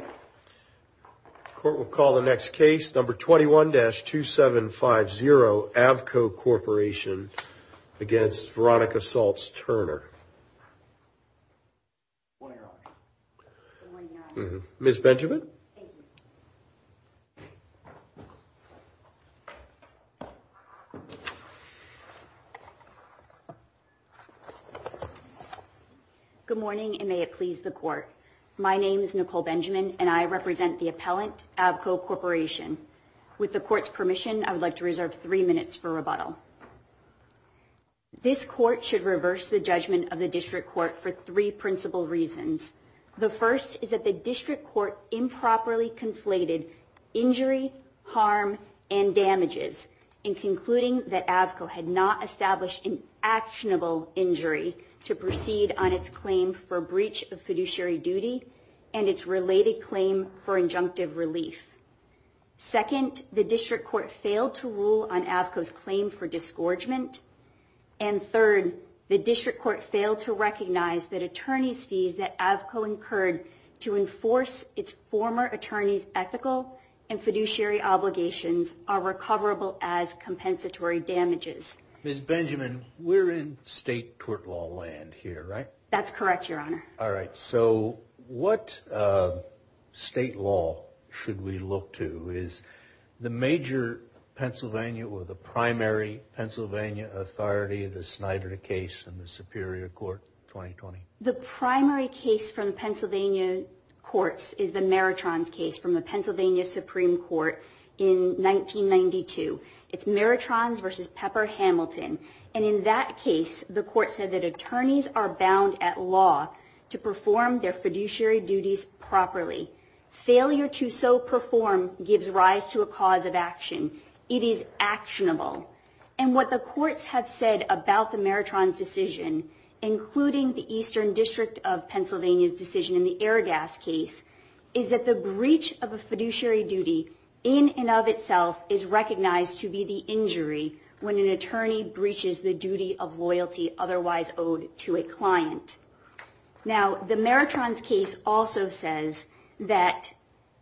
The court will call the next case, number 21-2750, Avco Corporation v. Veronica Saltz Turner. Good morning, Your Honor. Good morning, Your Honor. Ms. Benjamin? Thank you. Good morning, and may it please the Court. My name is Nicole Benjamin, and I represent the appellant, Avco Corporation. With the Court's permission, I would like to reserve three minutes for rebuttal. This Court should reverse the judgment of the District Court for three principal reasons. The first is that the District Court improperly conflated injury, harm, and damages in concluding that Avco had not established an actionable injury to proceed on its claim for breach of fiduciary duty and its related claim for injunctive relief. Second, the District Court failed to rule on Avco's claim for disgorgement. And third, the District Court failed to recognize that attorneys' fees that Avco incurred to enforce its former attorneys' ethical and fiduciary obligations are recoverable as compensatory damages. Ms. Benjamin, we're in state tort law land here, right? That's correct, Your Honor. All right, so what state law should we look to? Is the major Pennsylvania or the primary Pennsylvania authority the Snyder case in the Superior Court 2020? The primary case from Pennsylvania courts is the Meritrons case from the Pennsylvania Supreme Court in 1992. It's Meritrons v. Pepper-Hamilton. And in that case, the Court said that attorneys are bound at law to perform their fiduciary duties properly. Failure to so perform gives rise to a cause of action. It is actionable. And what the courts have said about the Meritrons decision, including the Eastern District of Pennsylvania's decision in the Airgas case, is that the breach of a fiduciary duty in and of itself is recognized to be the injury when an attorney breaches the duty of loyalty otherwise owed to a client. Now, the Meritrons case also says that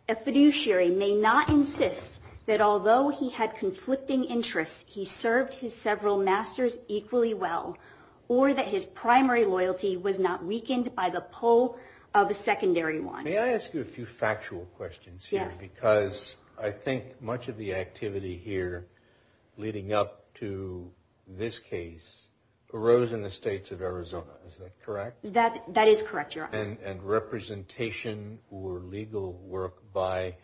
a fiduciary may not insist that although he had conflicting interests, he served his several masters equally well, or that his primary loyalty was not weakened by the pull of a secondary one. May I ask you a few factual questions here? Yes. Because I think much of the activity here leading up to this case arose in the states of Arizona, is that correct? That is correct, Your Honor. And representation or legal work by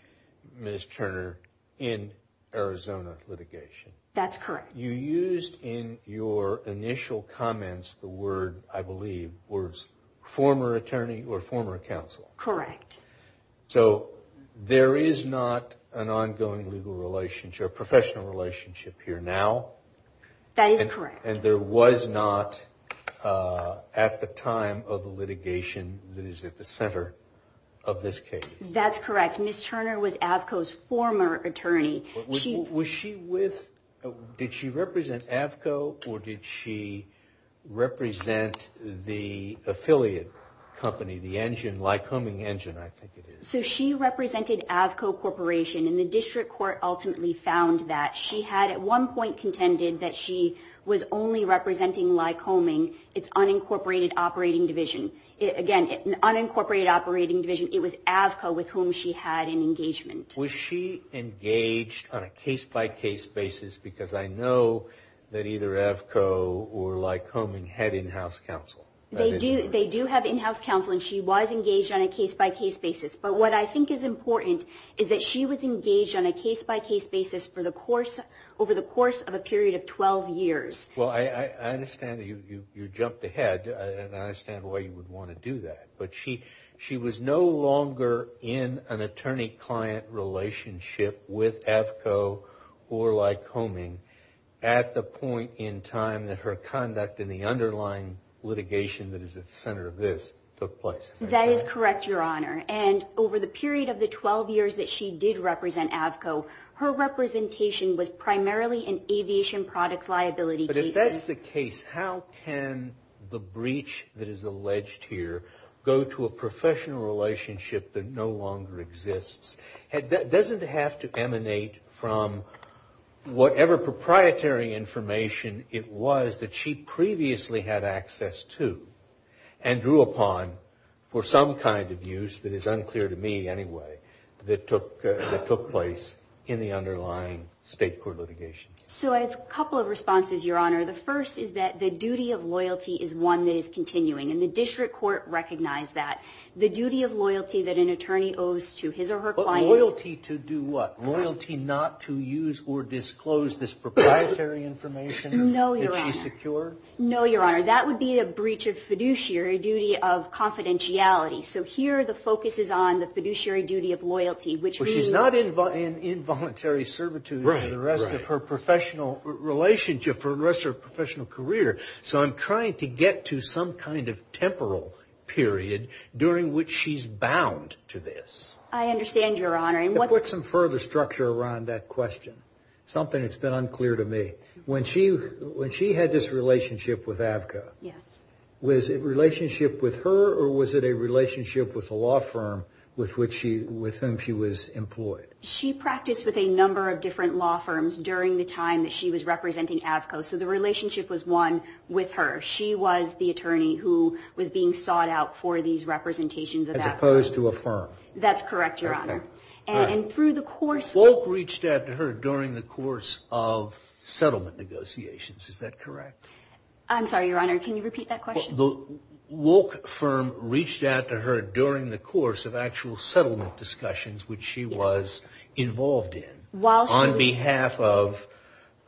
Ms. Turner in Arizona litigation. That's correct. You used in your initial comments the word, I believe, words former attorney or former counsel. Correct. So there is not an ongoing professional relationship here now. That is correct. And there was not at the time of the litigation that is at the center of this case. That's correct. Ms. Turner was AAVCO's former attorney. Was she with, did she represent AAVCO or did she represent the affiliate company, the engine, Lycoming Engine, I think it is. So she represented AAVCO Corporation and the district court ultimately found that. She had at one point contended that she was only representing Lycoming, its unincorporated operating division. Again, unincorporated operating division. It was AAVCO with whom she had an engagement. Was she engaged on a case-by-case basis? Because I know that either AAVCO or Lycoming had in-house counsel. They do have in-house counsel and she was engaged on a case-by-case basis. But what I think is important is that she was engaged on a case-by-case basis over the course of a period of 12 years. Well, I understand that you jumped ahead and I understand why you would want to do that. But she was no longer in an attorney-client relationship with AAVCO or Lycoming at the point in time that her conduct in the underlying litigation that is at the center of this took place. That is correct, Your Honor. And over the period of the 12 years that she did represent AAVCO, her representation was primarily in aviation products liability cases. If that's the case, how can the breach that is alleged here go to a professional relationship that no longer exists? It doesn't have to emanate from whatever proprietary information it was that she previously had access to and drew upon for some kind of use that is unclear to me anyway that took place in the underlying state court litigation. So I have a couple of responses, Your Honor. The first is that the duty of loyalty is one that is continuing and the district court recognized that. The duty of loyalty that an attorney owes to his or her client... But loyalty to do what? Loyalty not to use or disclose this proprietary information that she secured? No, Your Honor. No, Your Honor. That would be a breach of fiduciary duty of confidentiality. So here the focus is on the fiduciary duty of loyalty, which means... ...of her professional relationship for the rest of her professional career. So I'm trying to get to some kind of temporal period during which she's bound to this. I understand, Your Honor. To put some further structure around that question, something that's been unclear to me. When she had this relationship with AAVCO... Yes. ...was it a relationship with her or was it a relationship with a law firm with whom she was employed? She practiced with a number of different law firms during the time that she was representing AAVCO. So the relationship was one with her. She was the attorney who was being sought out for these representations of AAVCO. As opposed to a firm. That's correct, Your Honor. Okay. And through the course... Wolk reached out to her during the course of settlement negotiations. Is that correct? I'm sorry, Your Honor. Can you repeat that question? The Wolk firm reached out to her during the course of actual settlement discussions which she was involved in. While she was... On behalf of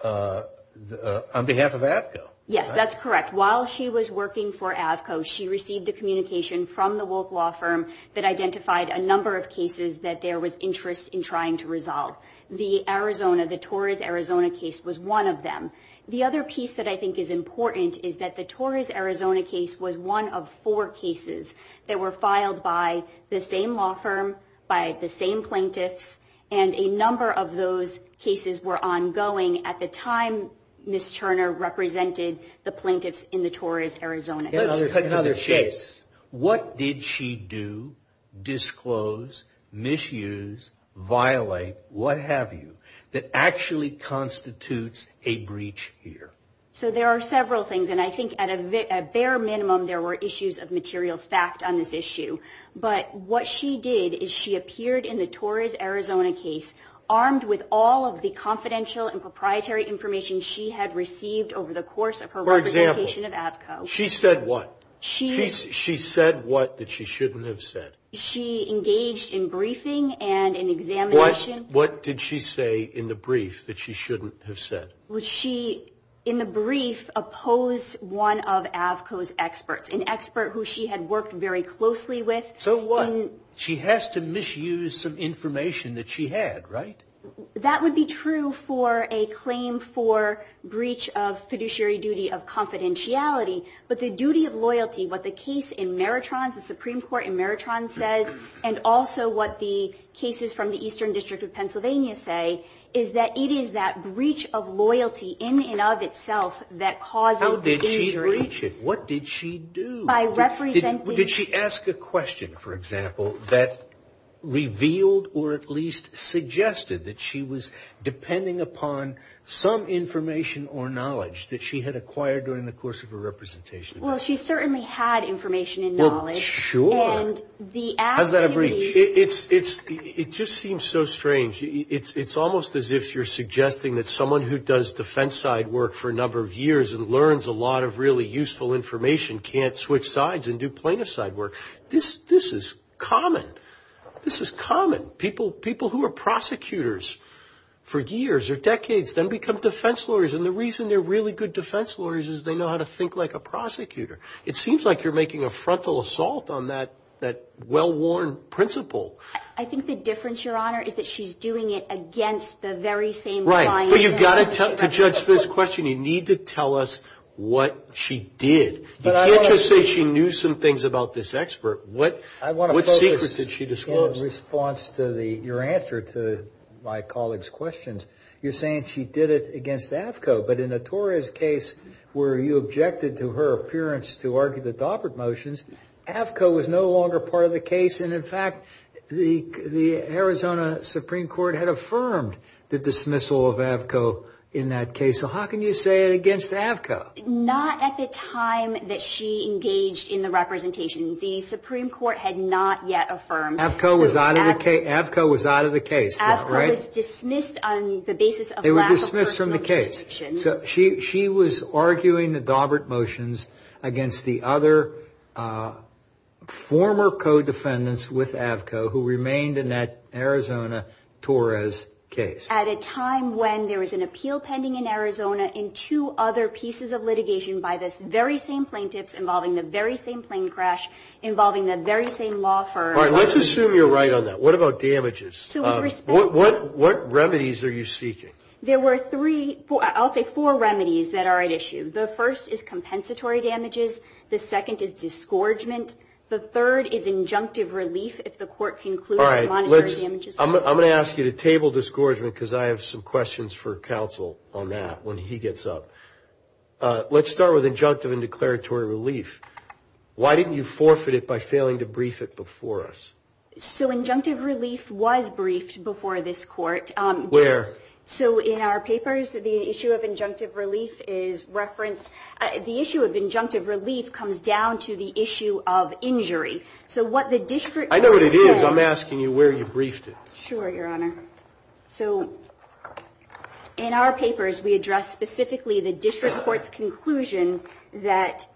AAVCO. Yes, that's correct. While she was working for AAVCO, she received a communication from the Wolk law firm that identified a number of cases that there was interest in trying to resolve. The Arizona, the Torres Arizona case was one of them. The other piece that I think is important is that the Torres Arizona case was one of four cases that were filed by the same law firm, by the same plaintiffs, and a number of those cases were ongoing at the time Ms. Turner represented the plaintiffs in the Torres Arizona case. Let's take another case. What did she do, disclose, misuse, violate, what have you, that actually constitutes a breach here? So there are several things, and I think at a bare minimum there were issues of material fact on this issue. But what she did is she appeared in the Torres Arizona case armed with all of the confidential and proprietary information she had received over the course of her... For example, she said what? She said what that she shouldn't have said. She engaged in briefing and in examination. What did she say in the brief that she shouldn't have said? She, in the brief, opposed one of AAVCO's experts, an expert who she had worked very closely with. So what? She has to misuse some information that she had, right? That would be true for a claim for breach of fiduciary duty of confidentiality, but the duty of loyalty, what the case in Meritron, the Supreme Court in Meritron says, and also what the cases from the Eastern District of Pennsylvania say, is that it is that breach of loyalty in and of itself that causes injury. How did she breach it? What did she do? By representing... Did she ask a question, for example, that revealed or at least suggested that she was depending upon some information or knowledge that she had acquired during the course of her representation? Well, she certainly had information and knowledge. And the activity... How's that a breach? It just seems so strange. It's almost as if you're suggesting that someone who does defense side work for a number of years and learns a lot of really useful information can't switch sides and do plaintiff side work. This is common. This is common. People who are prosecutors for years or decades then become defense lawyers, and the reason they're really good defense lawyers is they know how to think like a prosecutor. It seems like you're making a frontal assault on that well-worn principle. I think the difference, Your Honor, is that she's doing it against the very same client. Right. Well, you've got to judge this question. You need to tell us what she did. You can't just say she knew some things about this expert. What secret did she disclose? I want to focus in response to your answer to my colleague's questions. You're saying she did it against AAFCO, but in the Torres case where you objected to her appearance to argue the Daubert motions, AAFCO was no longer part of the case, and, in fact, the Arizona Supreme Court had affirmed the dismissal of AAFCO in that case. So how can you say it against AAFCO? Not at the time that she engaged in the representation. The Supreme Court had not yet affirmed. AAFCO was out of the case. AAFCO was dismissed on the basis of lack of personal description. They were dismissed from the case. So she was arguing the Daubert motions against the other former co-defendants with AAFCO who remained in that Arizona Torres case. At a time when there was an appeal pending in Arizona in two other pieces of litigation by the very same plaintiffs, involving the very same plane crash, involving the very same law firm. All right. Let's assume you're right on that. What about damages? What remedies are you seeking? There were three, I'll say four remedies that are at issue. The first is compensatory damages. The second is disgorgement. The third is injunctive relief if the court concludes the monetary damages. All right. I'm going to ask you to table disgorgement because I have some questions for counsel on that when he gets up. Let's start with injunctive and declaratory relief. Why didn't you forfeit it by failing to brief it before us? So injunctive relief was briefed before this court. Where? So in our papers, the issue of injunctive relief is referenced. The issue of injunctive relief comes down to the issue of injury. I know what it is. I'm asking you where you briefed it. Sure, Your Honor. So in our papers, we address specifically the district court's conclusion that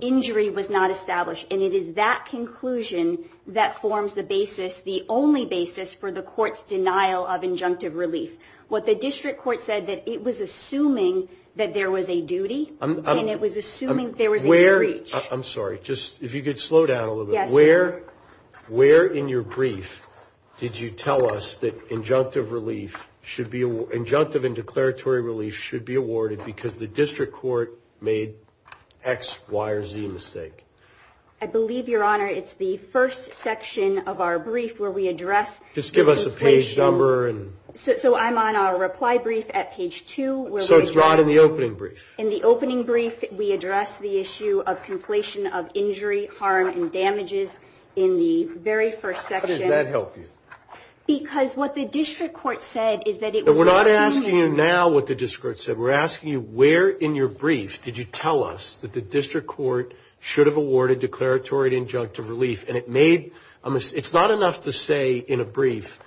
injury was not established. And it is that conclusion that forms the basis, the only basis for the court's denial of injunctive relief. What the district court said that it was assuming that there was a duty and it was assuming there was a breach. I'm sorry. If you could slow down a little bit. Yes, Your Honor. Where in your brief did you tell us that injunctive and declaratory relief should be awarded because the district court made X, Y, or Z mistake? I believe, Your Honor, it's the first section of our brief where we address. Just give us a page number. So I'm on our reply brief at page 2. So it's not in the opening brief. In the opening brief, we address the issue of conflation of injury, harm, and damages in the very first section. How does that help you? Because what the district court said is that it was assuming. We're asking you now what the district court said. We're asking you where in your brief did you tell us that the district court should have awarded declaratory injunctive relief. And it made a mistake. It's not enough to say in a brief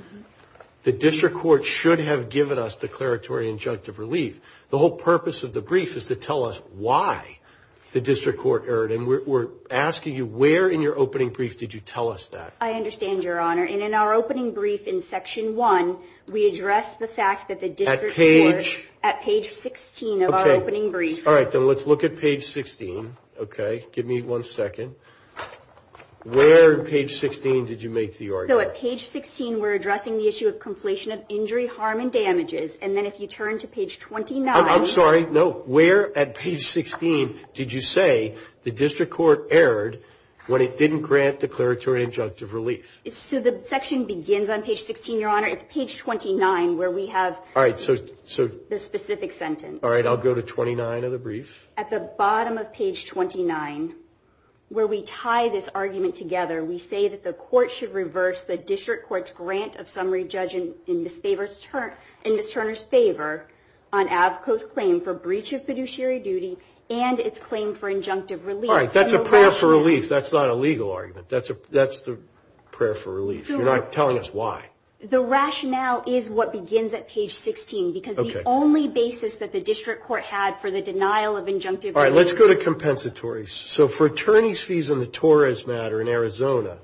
the district court should have given us declaratory injunctive relief. The whole purpose of the brief is to tell us why the district court erred. And we're asking you where in your opening brief did you tell us that. I understand, Your Honor. And in our opening brief in section 1, we address the fact that the district court. At page? At page 16 of our opening brief. All right. Then let's look at page 16. Okay. Give me one second. Where on page 16 did you make the argument? So at page 16, we're addressing the issue of conflation of injury, harm, and damages. And then if you turn to page 29. I'm sorry. No. Where at page 16 did you say the district court erred when it didn't grant declaratory injunctive relief? So the section begins on page 16, Your Honor. It's page 29 where we have. All right. So. The specific sentence. All right. I'll go to 29 of the brief. At the bottom of page 29 where we tie this argument together. We say that the court should reverse the district court's grant of summary judgment in Ms. Turner's favor on AVCO's claim for breach of fiduciary duty and its claim for injunctive relief. All right. That's a prayer for relief. That's not a legal argument. That's the prayer for relief. You're not telling us why. The rationale is what begins at page 16. Okay. Because the only basis that the district court had for the denial of injunctive relief. All right. Let's go to compensatory. So for attorney's fees in the Torres matter in Arizona,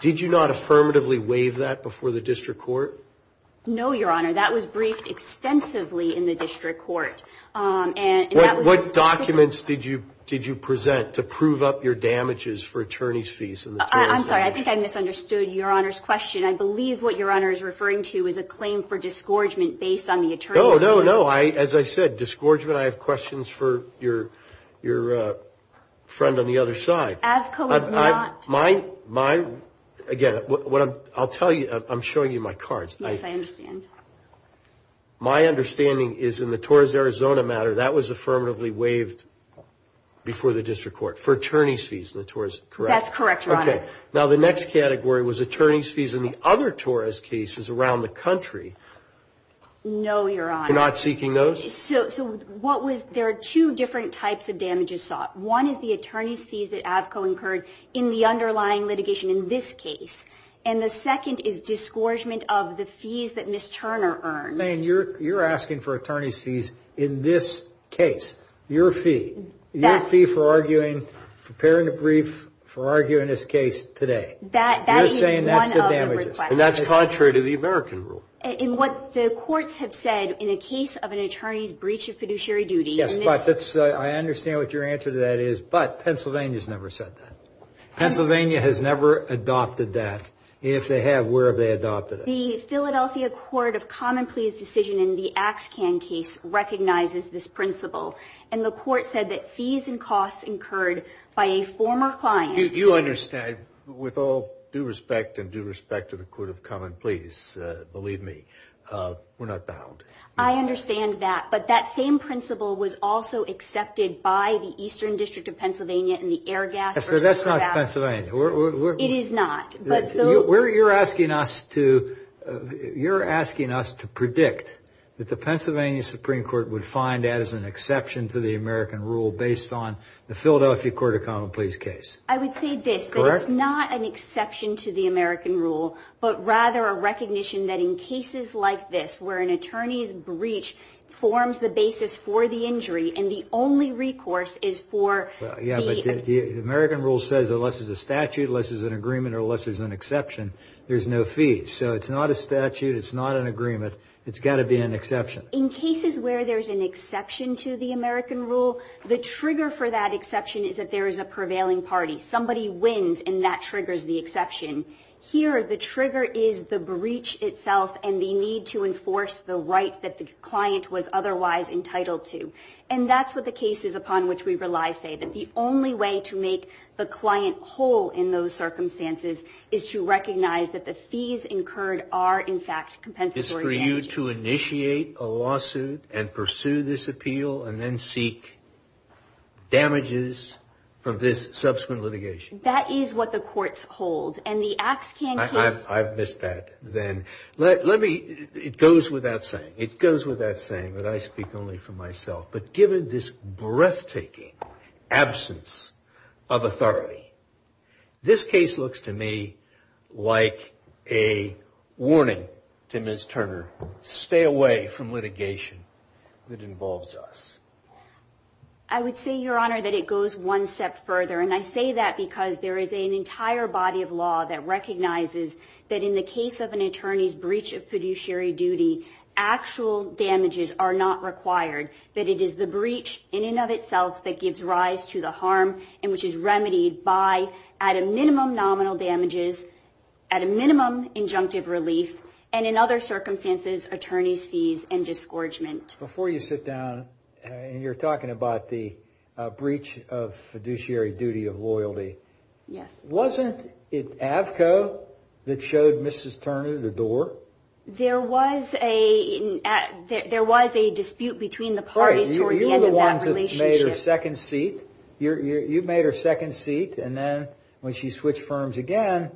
did you not affirmatively waive that before the district court? No, Your Honor. That was briefed extensively in the district court. What documents did you present to prove up your damages for attorney's fees? I'm sorry. I think I misunderstood Your Honor's question. I believe what Your Honor is referring to is a claim for disgorgement based on the attorney's fees. No, no, no. As I said, disgorgement. I have questions for your friend on the other side. AVCO is not. Again, I'll tell you. I'm showing you my cards. Yes, I understand. My understanding is in the Torres Arizona matter, that was affirmatively waived before the district court for attorney's fees in the Torres, correct? That's correct, Your Honor. Okay. Now, the next category was attorney's fees in the other Torres cases around the country. No, Your Honor. You're not seeking those? So what was – there are two different types of damages sought. One is the attorney's fees that AVCO incurred in the underlying litigation in this case. And the second is disgorgement of the fees that Ms. Turner earned. Elaine, you're asking for attorney's fees in this case. Your fee. Your fee for arguing, preparing a brief for arguing this case today. That is one of the requests. You're saying that's the damages. And that's contrary to the American rule. In what the courts have said, in a case of an attorney's breach of fiduciary duty. Yes, but that's – I understand what your answer to that is. But Pennsylvania's never said that. Pennsylvania has never adopted that. If they have, where have they adopted it? The Philadelphia Court of Common Pleas decision in the Axkan case recognizes this principle. And the court said that fees and costs incurred by a former client. You understand. With all due respect and due respect to the Court of Common Pleas, believe me, we're not bound. I understand that. But that same principle was also accepted by the Eastern District of Pennsylvania That's not Pennsylvania. It is not. You're asking us to predict that the Pennsylvania Supreme Court would find that as an exception to the American rule. Based on the Philadelphia Court of Common Pleas case. I would say this. That it's not an exception to the American rule. But rather a recognition that in cases like this, where an attorney's breach forms the basis for the injury. And the only recourse is for the – Yeah, but the American rule says unless there's a statute, unless there's an agreement, or unless there's an exception, there's no fee. So it's not a statute. It's not an agreement. It's got to be an exception. In cases where there's an exception to the American rule, the trigger for that exception is that there is a prevailing party. Somebody wins, and that triggers the exception. Here, the trigger is the breach itself and the need to enforce the right that the client was otherwise entitled to. And that's what the cases upon which we rely say. That the only way to make the client whole in those circumstances is to recognize that the fees incurred are, in fact, compensatory damages. It's for you to initiate a lawsuit and pursue this appeal and then seek damages from this subsequent litigation. That is what the courts hold. And the acts can – I've missed that then. Let me – it goes without saying. It goes without saying, but I speak only for myself. But given this breathtaking absence of authority, this case looks to me like a warning to Ms. Turner. Stay away from litigation that involves us. I would say, Your Honor, that it goes one step further. And I say that because there is an entire body of law that recognizes that in the case of an attorney's breach of fiduciary duty, actual damages are not required. That it is the breach in and of itself that gives rise to the harm and which is remedied by, at a minimum, nominal damages, at a minimum, injunctive relief, and in other circumstances, attorney's fees and disgorgement. Before you sit down and you're talking about the breach of fiduciary duty of loyalty. Yes. Wasn't it Avco that showed Mrs. Turner the door? There was a dispute between the parties toward the end of that relationship. You're the ones that made her second seat. You made her second seat, and then when she switched firms again,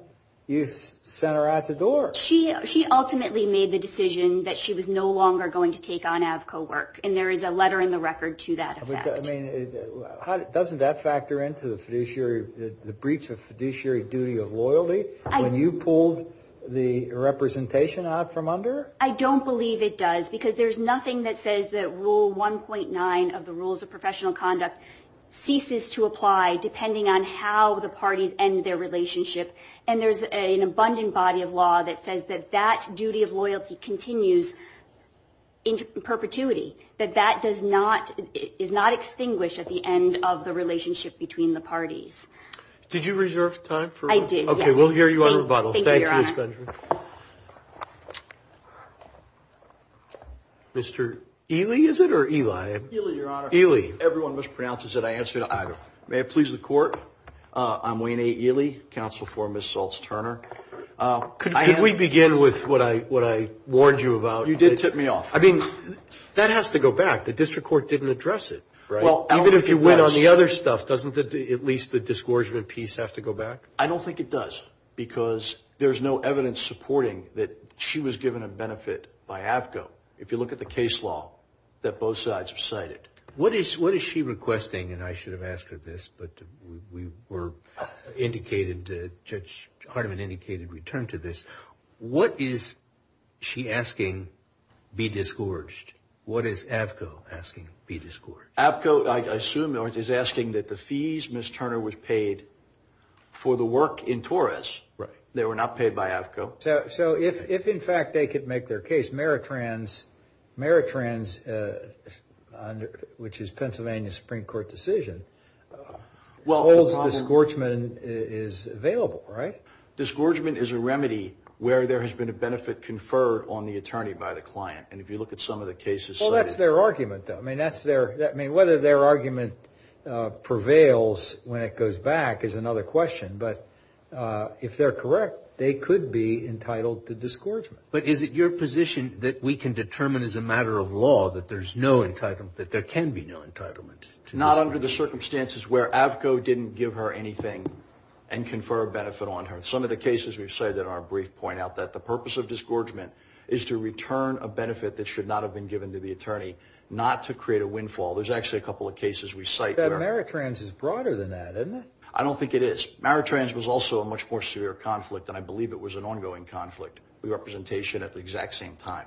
you sent her out the door. She ultimately made the decision that she was no longer going to take on Avco work. And there is a letter in the record to that effect. Doesn't that factor into the breach of fiduciary duty of loyalty when you pulled the representation out from under her? I don't believe it does because there's nothing that says that Rule 1.9 of the Rules of Professional Conduct ceases to apply, depending on how the parties end their relationship. And there's an abundant body of law that says that that duty of loyalty continues in perpetuity, that that does not – is not extinguished at the end of the relationship between the parties. Did you reserve time for – I did, yes. Okay, we'll hear you on rebuttal. Thank you, Your Honor. Thank you, Ms. Gundry. Mr. Ely, is it, or Eli? Ely, Your Honor. Ely. Everyone mispronounces it. I answer to either. May it please the Court. I'm Wayne A. Ely, counsel for Ms. Saltz-Turner. Could we begin with what I warned you about? You did tip me off. I mean, that has to go back. The district court didn't address it. Even if you went on the other stuff, doesn't at least the disgorgement piece have to go back? I don't think it does because there's no evidence supporting that she was given a benefit by AAFCO. If you look at the case law that both sides recited. What is she requesting? And I should have asked her this, but we were indicated, Judge Hardiman indicated return to this. What is she asking be disgorged? What is AAFCO asking be disgorged? AAFCO, I assume, is asking that the fees Ms. Turner was paid for the work in Torres. Right. They were not paid by AAFCO. So if, in fact, they could make their case, Meritrans, which is Pennsylvania Supreme Court decision, holds disgorgement is available, right? Disgorgement is a remedy where there has been a benefit conferred on the attorney by the client. And if you look at some of the cases cited. Well, that's their argument, though. I mean, whether their argument prevails when it goes back is another question. But if they're correct, they could be entitled to disgorgement. But is it your position that we can determine as a matter of law that there can be no entitlement? Not under the circumstances where AAFCO didn't give her anything and confer a benefit on her. Some of the cases we've cited in our brief point out that the purpose of disgorgement is to return a benefit that should not have been given to the attorney, not to create a windfall. There's actually a couple of cases we cite. But Meritrans is broader than that, isn't it? I don't think it is. Meritrans was also a much more severe conflict, and I believe it was an ongoing conflict of representation at the exact same time.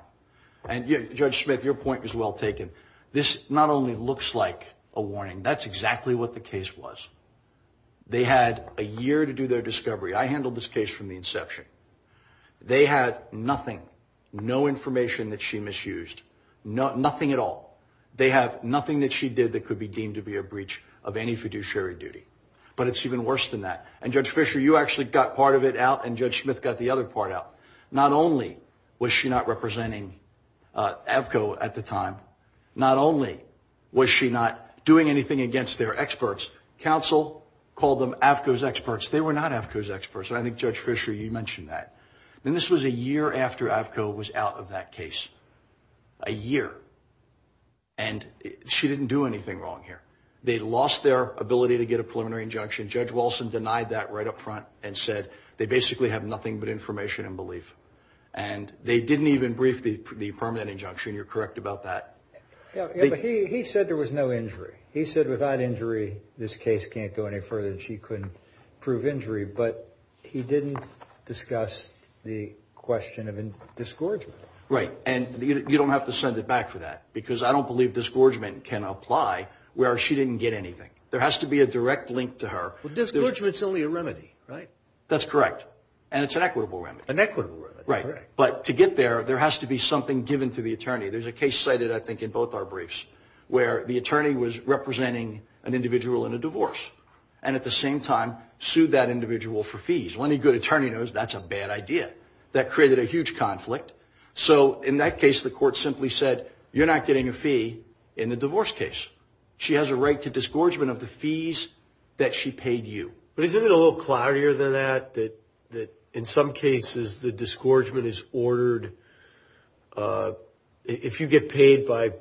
And Judge Smith, your point was well taken. This not only looks like a warning. That's exactly what the case was. They had a year to do their discovery. I handled this case from the inception. They had nothing, no information that she misused, nothing at all. They have nothing that she did that could be deemed to be a breach of any fiduciary duty. But it's even worse than that. And Judge Fisher, you actually got part of it out, and Judge Smith got the other part out. Not only was she not representing AAFCO at the time, not only was she not doing anything against their experts, counsel called them AAFCO's experts. They were not AAFCO's experts, and I think, Judge Fisher, you mentioned that. And this was a year after AAFCO was out of that case. A year. And she didn't do anything wrong here. They lost their ability to get a preliminary injunction. Judge Wilson denied that right up front and said they basically have nothing but information and belief. And they didn't even brief the permanent injunction. You're correct about that. He said there was no injury. He said without injury, this case can't go any further and she couldn't prove injury. But he didn't discuss the question of disgorgement. Right. And you don't have to send it back for that because I don't believe disgorgement can apply where she didn't get anything. There has to be a direct link to her. Well, disgorgement is only a remedy, right? That's correct. And it's an equitable remedy. An equitable remedy. Right. But to get there, there has to be something given to the attorney. There's a case cited, I think, in both our briefs where the attorney was representing an individual in a divorce and at the same time sued that individual for fees. When a good attorney knows, that's a bad idea. That created a huge conflict. So in that case, the court simply said, you're not getting a fee in the divorce case. She has a right to disgorgement of the fees that she paid you. But isn't it a little cloudier than that? In some cases, the disgorgement is ordered. If you get paid by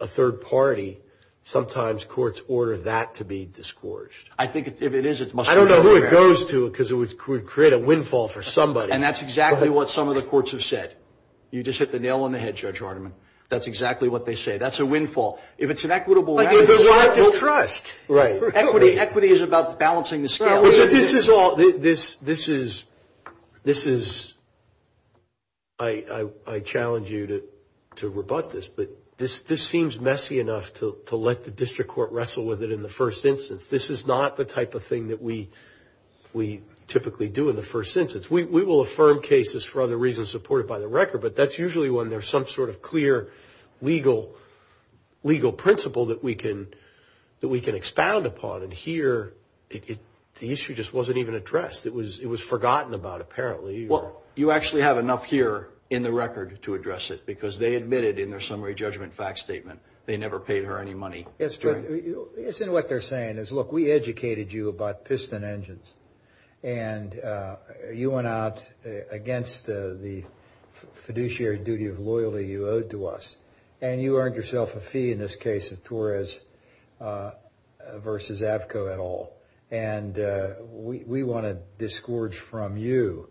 a third party, sometimes courts order that to be disgorged. I think if it is, it must be ordered. I don't know who it goes to because it would create a windfall for somebody. And that's exactly what some of the courts have said. You just hit the nail on the head, Judge Hardiman. That's exactly what they say. That's a windfall. If it's an equitable remedy, there's a right to trust. Right. Equity is about balancing the scales. This is all – this is – I challenge you to rebut this. But this seems messy enough to let the district court wrestle with it in the first instance. This is not the type of thing that we typically do in the first instance. We will affirm cases for other reasons supported by the record, but that's usually when there's some sort of clear legal principle that we can expound upon. And here, the issue just wasn't even addressed. It was forgotten about, apparently. Well, you actually have enough here in the record to address it because they admitted in their summary judgment fact statement they never paid her any money. Yes, but isn't what they're saying is, look, we educated you about piston engines and you went out against the fiduciary duty of loyalty you owed to us and you earned yourself a fee in this case of Torres versus Avco et al. And we want to disgorge from you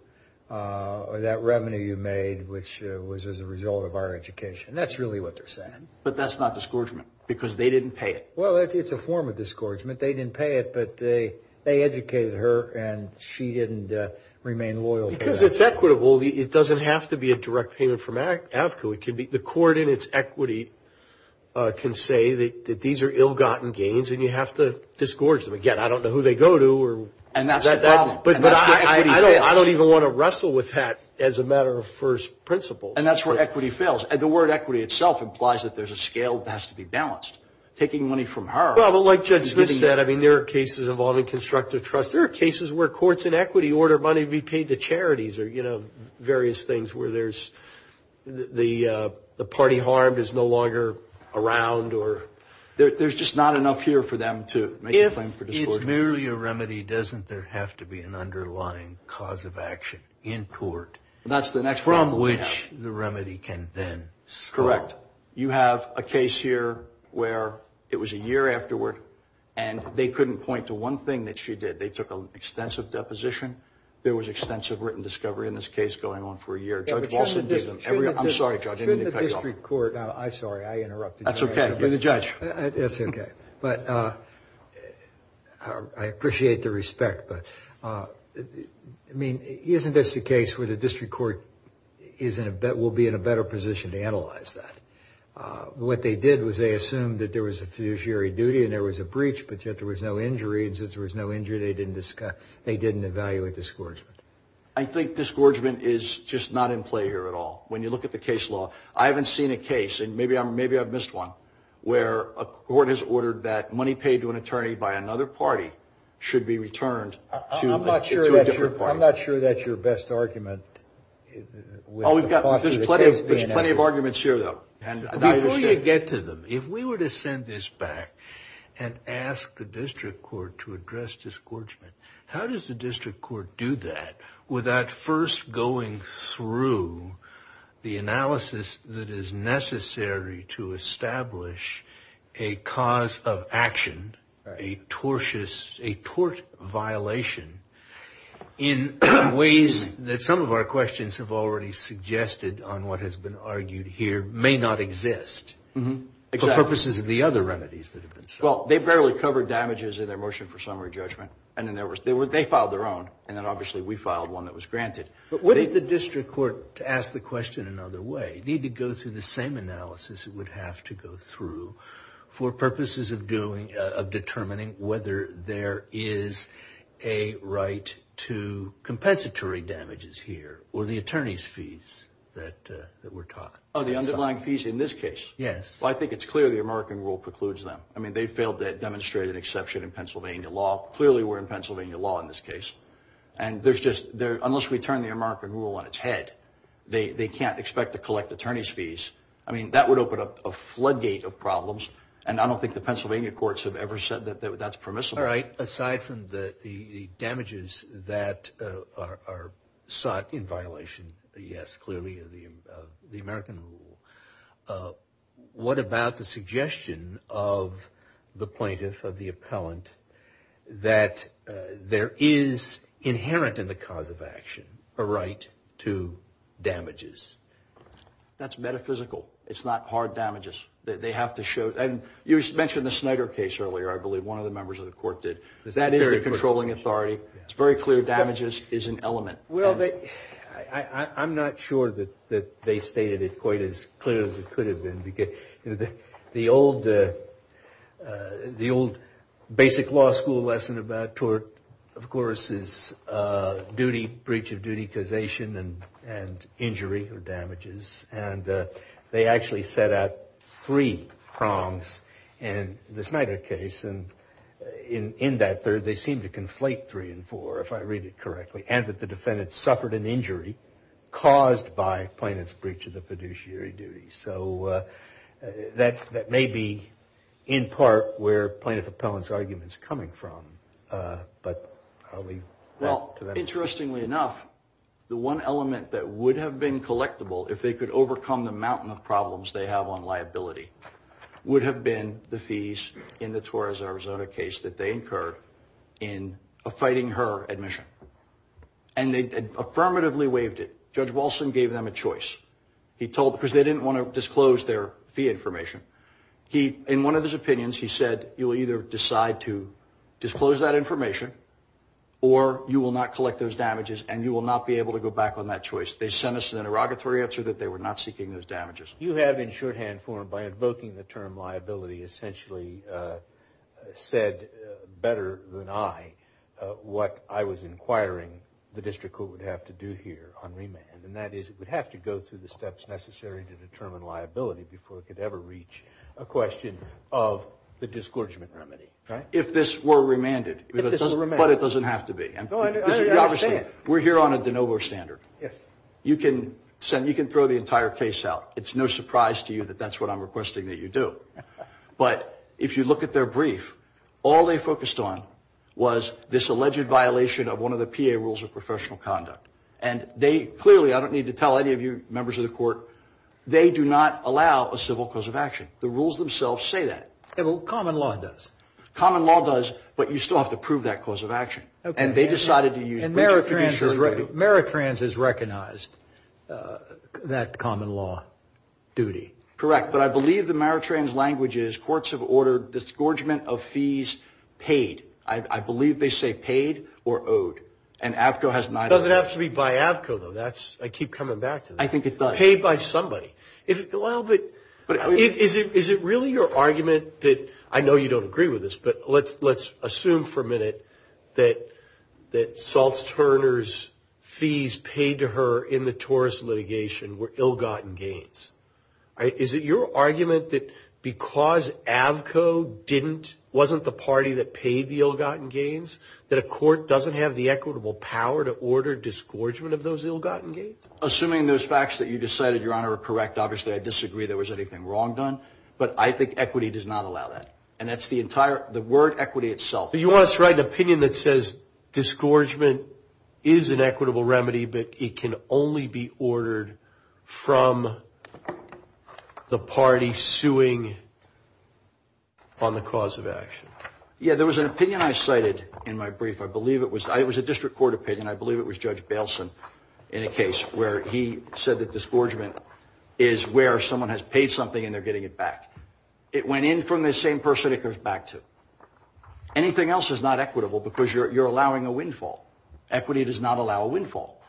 that revenue you made, which was as a result of our education. That's really what they're saying. But that's not disgorgement because they didn't pay it. Well, it's a form of disgorgement. They didn't pay it, but they educated her and she didn't remain loyal to that. Because it's equitable. It doesn't have to be a direct payment from Avco. The court in its equity can say that these are ill-gotten gains and you have to disgorge them. Again, I don't know who they go to. And that's the problem. But I don't even want to wrestle with that as a matter of first principle. And that's where equity fails. And the word equity itself implies that there's a scale that has to be balanced. Taking money from her. Well, but like Judge Smith said, I mean, there are cases involving constructive trust. There are cases where courts in equity order money to be paid to charities or various things where the party harm is no longer around. There's just not enough here for them to make a claim for disgorgement. If it's merely a remedy, doesn't there have to be an underlying cause of action in court? That's the next problem we have. From which the remedy can then start. Correct. You have a case here where it was a year afterward and they couldn't point to one thing that she did. They took an extensive deposition. There was extensive written discovery in this case going on for a year. I'm sorry, Judge. Shouldn't the district court. I'm sorry. I interrupted. That's okay. You're the judge. That's okay. But I appreciate the respect. But, I mean, isn't this the case where the district court will be in a better position to analyze that? What they did was they assumed that there was a fiduciary duty and there was a breach, but yet there was no injury. They didn't evaluate disgorgement. I think disgorgement is just not in play here at all. When you look at the case law, I haven't seen a case, and maybe I've missed one, where a court has ordered that money paid to an attorney by another party should be returned to a different party. I'm not sure that's your best argument. There's plenty of arguments here, though. Before you get to them, if we were to send this back and ask the district court to address disgorgement, how does the district court do that without first going through the analysis that is necessary to establish a cause of action, a tort violation in ways that some of our questions have already suggested on what has been argued here may not exist for purposes of the other remedies that have been sought? Well, they barely covered damages in their motion for summary judgment. They filed their own, and then obviously we filed one that was granted. Wouldn't the district court, to ask the question another way, need to go through the same analysis it would have to go through for purposes of determining whether there is a right to compensatory damages here or the attorney's fees that were taught? Oh, the underlying fees in this case? Yes. Well, I think it's clear the American rule precludes them. I mean, they failed to demonstrate an exception in Pennsylvania law. Clearly, we're in Pennsylvania law in this case. Unless we turn the American rule on its head, they can't expect to collect attorney's fees. I mean, that would open up a floodgate of problems, and I don't think the Pennsylvania courts have ever said that that's permissible. All right, aside from the damages that are sought in violation, yes, clearly of the American rule, what about the suggestion of the plaintiff, of the appellant, that there is inherent in the cause of action a right to damages? That's metaphysical. It's not hard damages. They have to show, and you mentioned the Snyder case earlier, I believe, that one of the members of the court did. That is the controlling authority. It's very clear. Damages is an element. Well, I'm not sure that they stated it quite as clear as it could have been. The old basic law school lesson about tort, of course, is duty, breach of duty, causation, and injury or damages. And they actually set out three prongs in the Snyder case, and in that they seem to conflate three and four, if I read it correctly, and that the defendant suffered an injury caused by plaintiff's breach of the fiduciary duty. So that may be in part where plaintiff appellant's argument is coming from, but I'll leave that to them. Interestingly enough, the one element that would have been collectible if they could overcome the mountain of problems they have on liability would have been the fees in the Torres Arizona case that they incurred in fighting her admission. And they affirmatively waived it. Judge Walson gave them a choice. Because they didn't want to disclose their fee information. In one of his opinions, he said, you will either decide to disclose that information or you will not collect those damages and you will not be able to go back on that choice. They sent us an interrogatory answer that they were not seeking those damages. You have, in shorthand form, by invoking the term liability, essentially said better than I what I was inquiring the district court would have to do here on remand, and that is it would have to go through the steps necessary to determine liability before it could ever reach a question of the disgorgement remedy. If this were remanded, but it doesn't have to be. We're here on a de novo standard. You can throw the entire case out. It's no surprise to you that that's what I'm requesting that you do. But if you look at their brief, all they focused on was this alleged violation of one of the PA rules of professional conduct. And they clearly, I don't need to tell any of you members of the court, they do not allow a civil cause of action. The rules themselves say that. Common law does. Common law does, but you still have to prove that cause of action. And they decided to use bridges to be sure. And Meritrans has recognized that common law duty. Correct. But I believe the Meritrans language is courts have ordered disgorgement of fees paid. I believe they say paid or owed. And AAVCO has neither. It doesn't have to be by AAVCO, though. I keep coming back to that. I think it does. Paid by somebody. Is it really your argument that, I know you don't agree with this, but let's assume for a minute that Saltz-Turner's fees paid to her in the TORUS litigation were ill-gotten gains. Is it your argument that because AAVCO wasn't the party that paid the ill-gotten gains, that a court doesn't have the equitable power to order disgorgement of those ill-gotten gains? Assuming those facts that you just cited, Your Honor, are correct, obviously I disagree there was anything wrong done. But I think equity does not allow that. And that's the word equity itself. But you want us to write an opinion that says disgorgement is an equitable remedy, but it can only be ordered from the party suing on the cause of action. Yeah, there was an opinion I cited in my brief. It was a district court opinion. I believe it was Judge Bailson in a case where he said that disgorgement is where someone has paid something and they're getting it back. It went in from the same person it goes back to. Anything else is not equitable because you're allowing a windfall. Equity does not allow a windfall.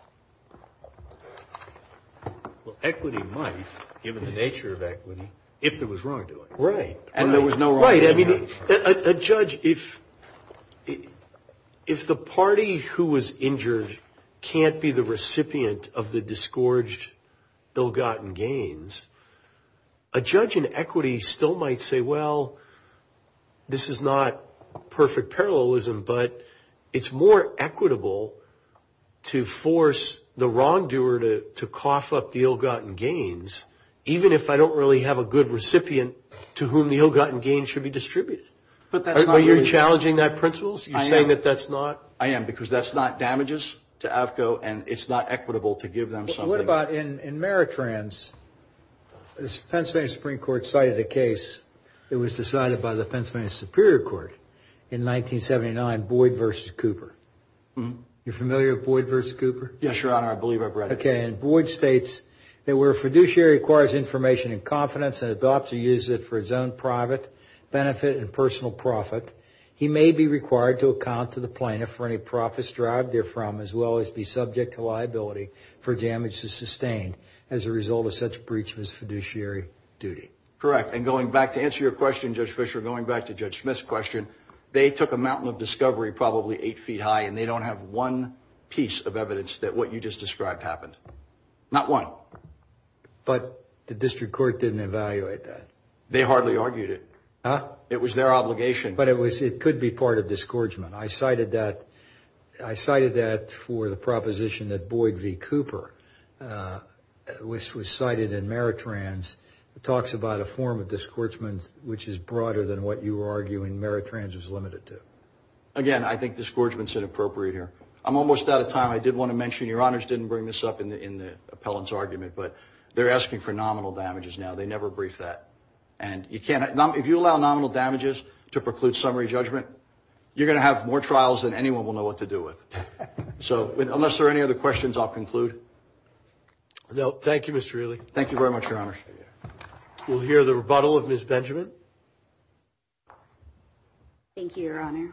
Well, equity might, given the nature of equity, if there was wrongdoing. Right. And there was no wrongdoing. A judge, if the party who was injured can't be the recipient of the disgorged ill-gotten gains, a judge in equity still might say, well, this is not perfect parallelism, but it's more equitable to force the wrongdoer to cough up the ill-gotten gains, even if I don't really have a good recipient to whom the ill-gotten gains should be distributed. But you're challenging that principle? I am. You're saying that that's not? I am, because that's not damages to AAFCO, and it's not equitable to give them something. What about in Meritrans? The Pennsylvania Supreme Court cited a case that was decided by the Pennsylvania Superior Court in 1979, Boyd v. Cooper. You familiar with Boyd v. Cooper? Yes, Your Honor. I believe I've read it. Okay. And Boyd states that where a fiduciary acquires information in confidence and adopts or uses it for his own private benefit and personal profit, he may be required to account to the plaintiff for any profits derived therefrom, as well as be subject to liability for damage to sustain as a result of such breach of his fiduciary duty. Correct. And going back to answer your question, Judge Fischer, going back to Judge Smith's question, they took a mountain of discovery probably eight feet high, and they don't have one piece of evidence that what you just described happened. Not one. But the district court didn't evaluate that. They hardly argued it. Huh? It was their obligation. But it could be part of disgorgement. I cited that for the proposition that Boyd v. Cooper was cited in Meritrans. It talks about a form of disgorgement which is broader than what you were arguing Meritrans was limited to. Again, I think disgorgement is inappropriate here. I'm almost out of time. I did want to mention your honors didn't bring this up in the appellant's argument, but they're asking for nominal damages now. They never briefed that. And if you allow nominal damages to preclude summary judgment, you're going to have more trials than anyone will know what to do with. So unless there are any other questions, I'll conclude. Thank you, Mr. Ealy. Thank you very much, your honors. We'll hear the rebuttal of Ms. Benjamin. Thank you. Thank you, your honor.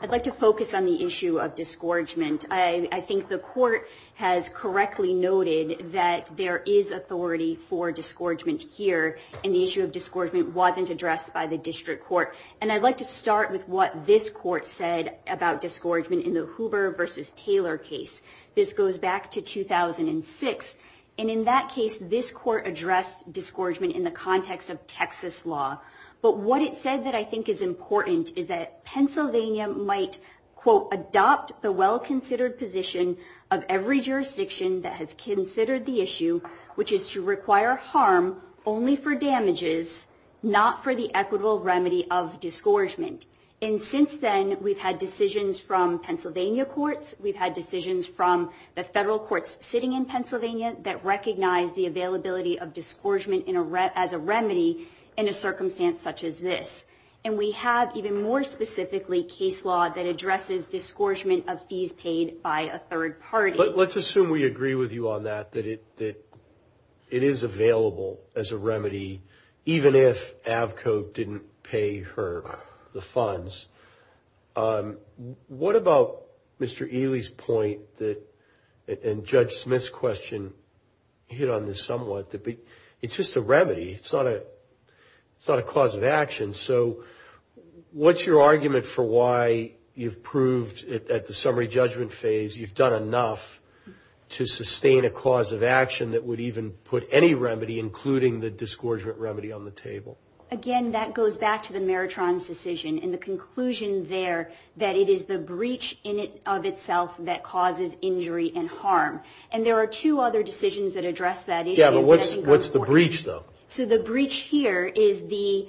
I'd like to focus on the issue of disgorgement. I think the court has correctly noted that there is authority for disgorgement here, and the issue of disgorgement wasn't addressed by the district court. And I'd like to start with what this court said about disgorgement in the Hoover v. Taylor case. This goes back to 2006. And in that case, this court addressed disgorgement in the context of Texas law. But what it said that I think is important is that Pennsylvania might, quote, adopt the well-considered position of every jurisdiction that has considered the issue, which is to require harm only for damages, not for the equitable remedy of disgorgement. And since then, we've had decisions from Pennsylvania courts, we've had decisions from the federal courts sitting in Pennsylvania that recognize the availability of disgorgement as a remedy in a circumstance such as this. And we have, even more specifically, case law that addresses disgorgement of fees paid by a third party. Let's assume we agree with you on that, that it is available as a remedy, even if Avco didn't pay her the funds. What about Mr. Ely's point that, and Judge Smith's question hit on this somewhat, that it's just a remedy, it's not a cause of action. So what's your argument for why you've proved at the summary judgment phase, you've done enough to sustain a cause of action that would even put any remedy, including the disgorgement remedy, on the table? Again, that goes back to the Meritron's decision and the conclusion there that it is the breach of itself that causes injury and harm. And there are two other decisions that address that issue. Yeah, but what's the breach, though? So the breach here is the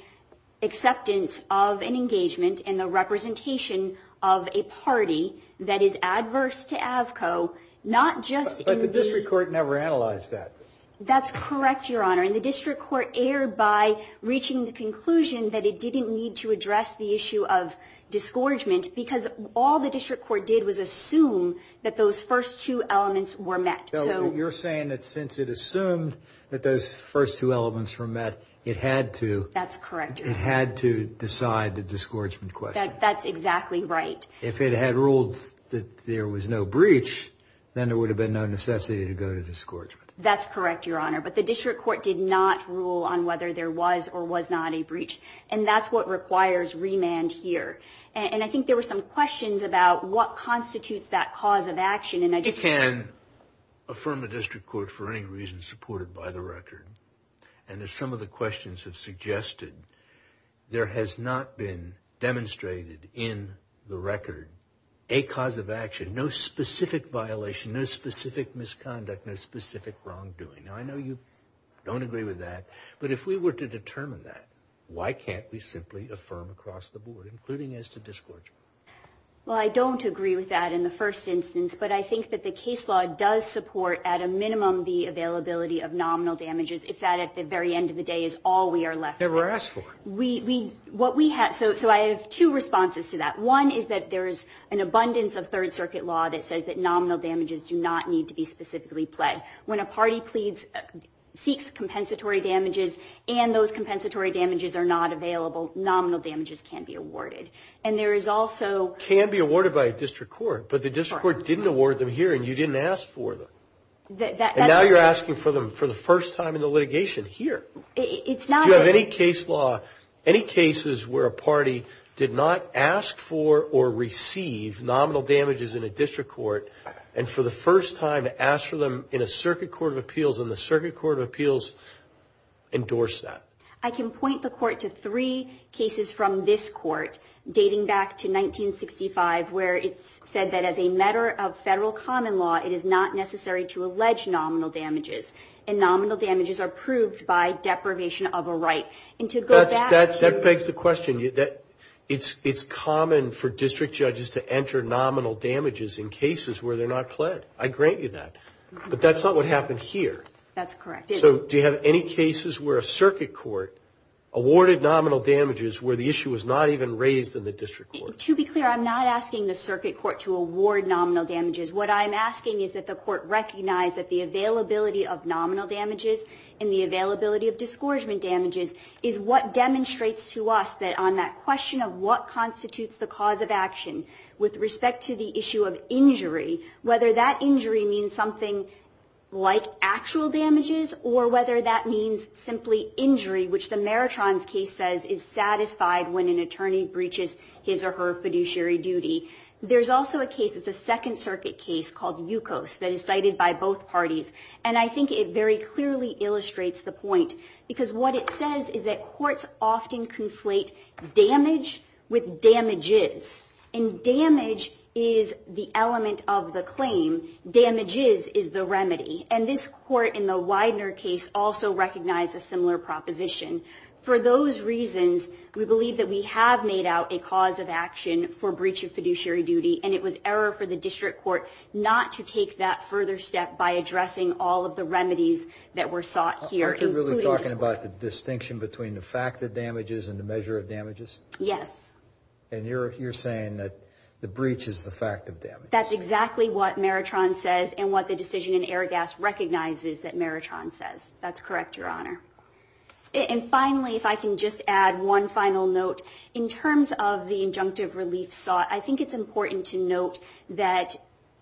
acceptance of an engagement and the representation of a party that is adverse to Avco, not just in the... But the district court never analyzed that. That's correct, Your Honor. And the district court erred by reaching the conclusion that it didn't need to address the issue of disgorgement because all the district court did was assume that those first two elements were met. So you're saying that since it assumed that those first two elements were met, it had to... That's correct, Your Honor. It had to decide the disgorgement question. That's exactly right. If it had ruled that there was no breach, then there would have been no necessity to go to disgorgement. That's correct, Your Honor. But the district court did not rule on whether there was or was not a breach, and that's what requires remand here. And I think there were some questions about what constitutes that cause of action, and I just... You can affirm a district court for any reason supported by the record. And as some of the questions have suggested, there has not been demonstrated in the record a cause of action, no specific violation, no specific misconduct, no specific wrongdoing. Now, I know you don't agree with that, but if we were to determine that, why can't we simply affirm across the board, including as to disgorgement? Well, I don't agree with that in the first instance, but I think that the case law does support at a minimum the availability of nominal damages if that at the very end of the day is all we are left with. Never asked for it. So I have two responses to that. One is that there is an abundance of Third Circuit law that says that nominal damages do not need to be specifically pled. When a party pleads, seeks compensatory damages, and those compensatory damages are not available, nominal damages can be awarded. And there is also... Can be awarded by a district court, but the district court didn't award them here and you didn't ask for them. That's... And now you're asking for them for the first time in the litigation here. It's not... Do you have any case law, any cases where a party did not ask for or receive nominal damages in a district court and for the first time asked for them in a circuit court of appeals and the circuit court of appeals endorsed that? I can point the court to three cases from this court dating back to 1965 where it's said that as a matter of federal common law, it is not necessary to allege nominal damages. And nominal damages are proved by deprivation of a right. And to go back to... That begs the question. It's common for district judges to enter nominal damages in cases where they're not pled. I grant you that. But that's not what happened here. That's correct. So do you have any cases where a circuit court awarded nominal damages where the issue was not even raised in the district court? To be clear, I'm not asking the circuit court to award nominal damages. What I'm asking is that the court recognize that the availability of nominal damages and the availability of disgorgement damages is what demonstrates to us that on that question of what constitutes the cause of action with respect to the issue of injury, whether that injury means something like actual damages or whether that means simply injury, which the Maratron's case says is satisfied when an attorney breaches his or her fiduciary duty. There's also a case. It's a Second Circuit case called Yukos that is cited by both parties. And I think it very clearly illustrates the point because what it says is that courts often conflate damage with damages. And damage is the element of the claim. Damages is the remedy. And this court in the Widener case also recognized a similar proposition. For those reasons, we believe that we have made out a cause of action for breach of fiduciary duty, and it was error for the district court not to take that further step by addressing all of the remedies that were sought here, including this court. Are you really talking about the distinction between the fact of damages and the measure of damages? Yes. And you're saying that the breach is the fact of damages. That's exactly what Maratron says and what the decision in Aragas recognizes that Maratron says. That's correct, Your Honor. And finally, if I can just add one final note, in terms of the injunctive relief sought, I think it's important to note that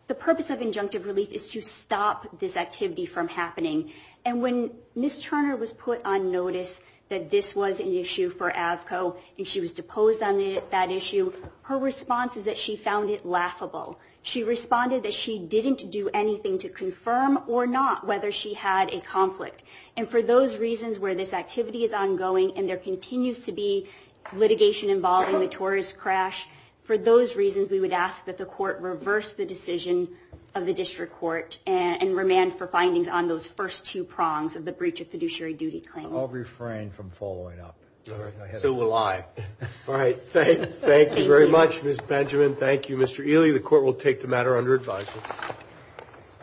the purpose of injunctive relief is to stop this activity from happening. And when Ms. Turner was put on notice that this was an issue for AVCO and she was deposed on that issue, her response is that she found it laughable. She responded that she didn't do anything to confirm or not whether she had a conflict. And for those reasons where this activity is ongoing and there continues to be litigation involving the tourist crash, for those reasons we would ask that the court reverse the decision of the district court and remand for findings on those first two prongs of the breach of fiduciary duty claim. I'll refrain from following up. So will I. All right. Thank you very much, Ms. Benjamin. Thank you, Mr. Ely. The court will take the matter under advisory.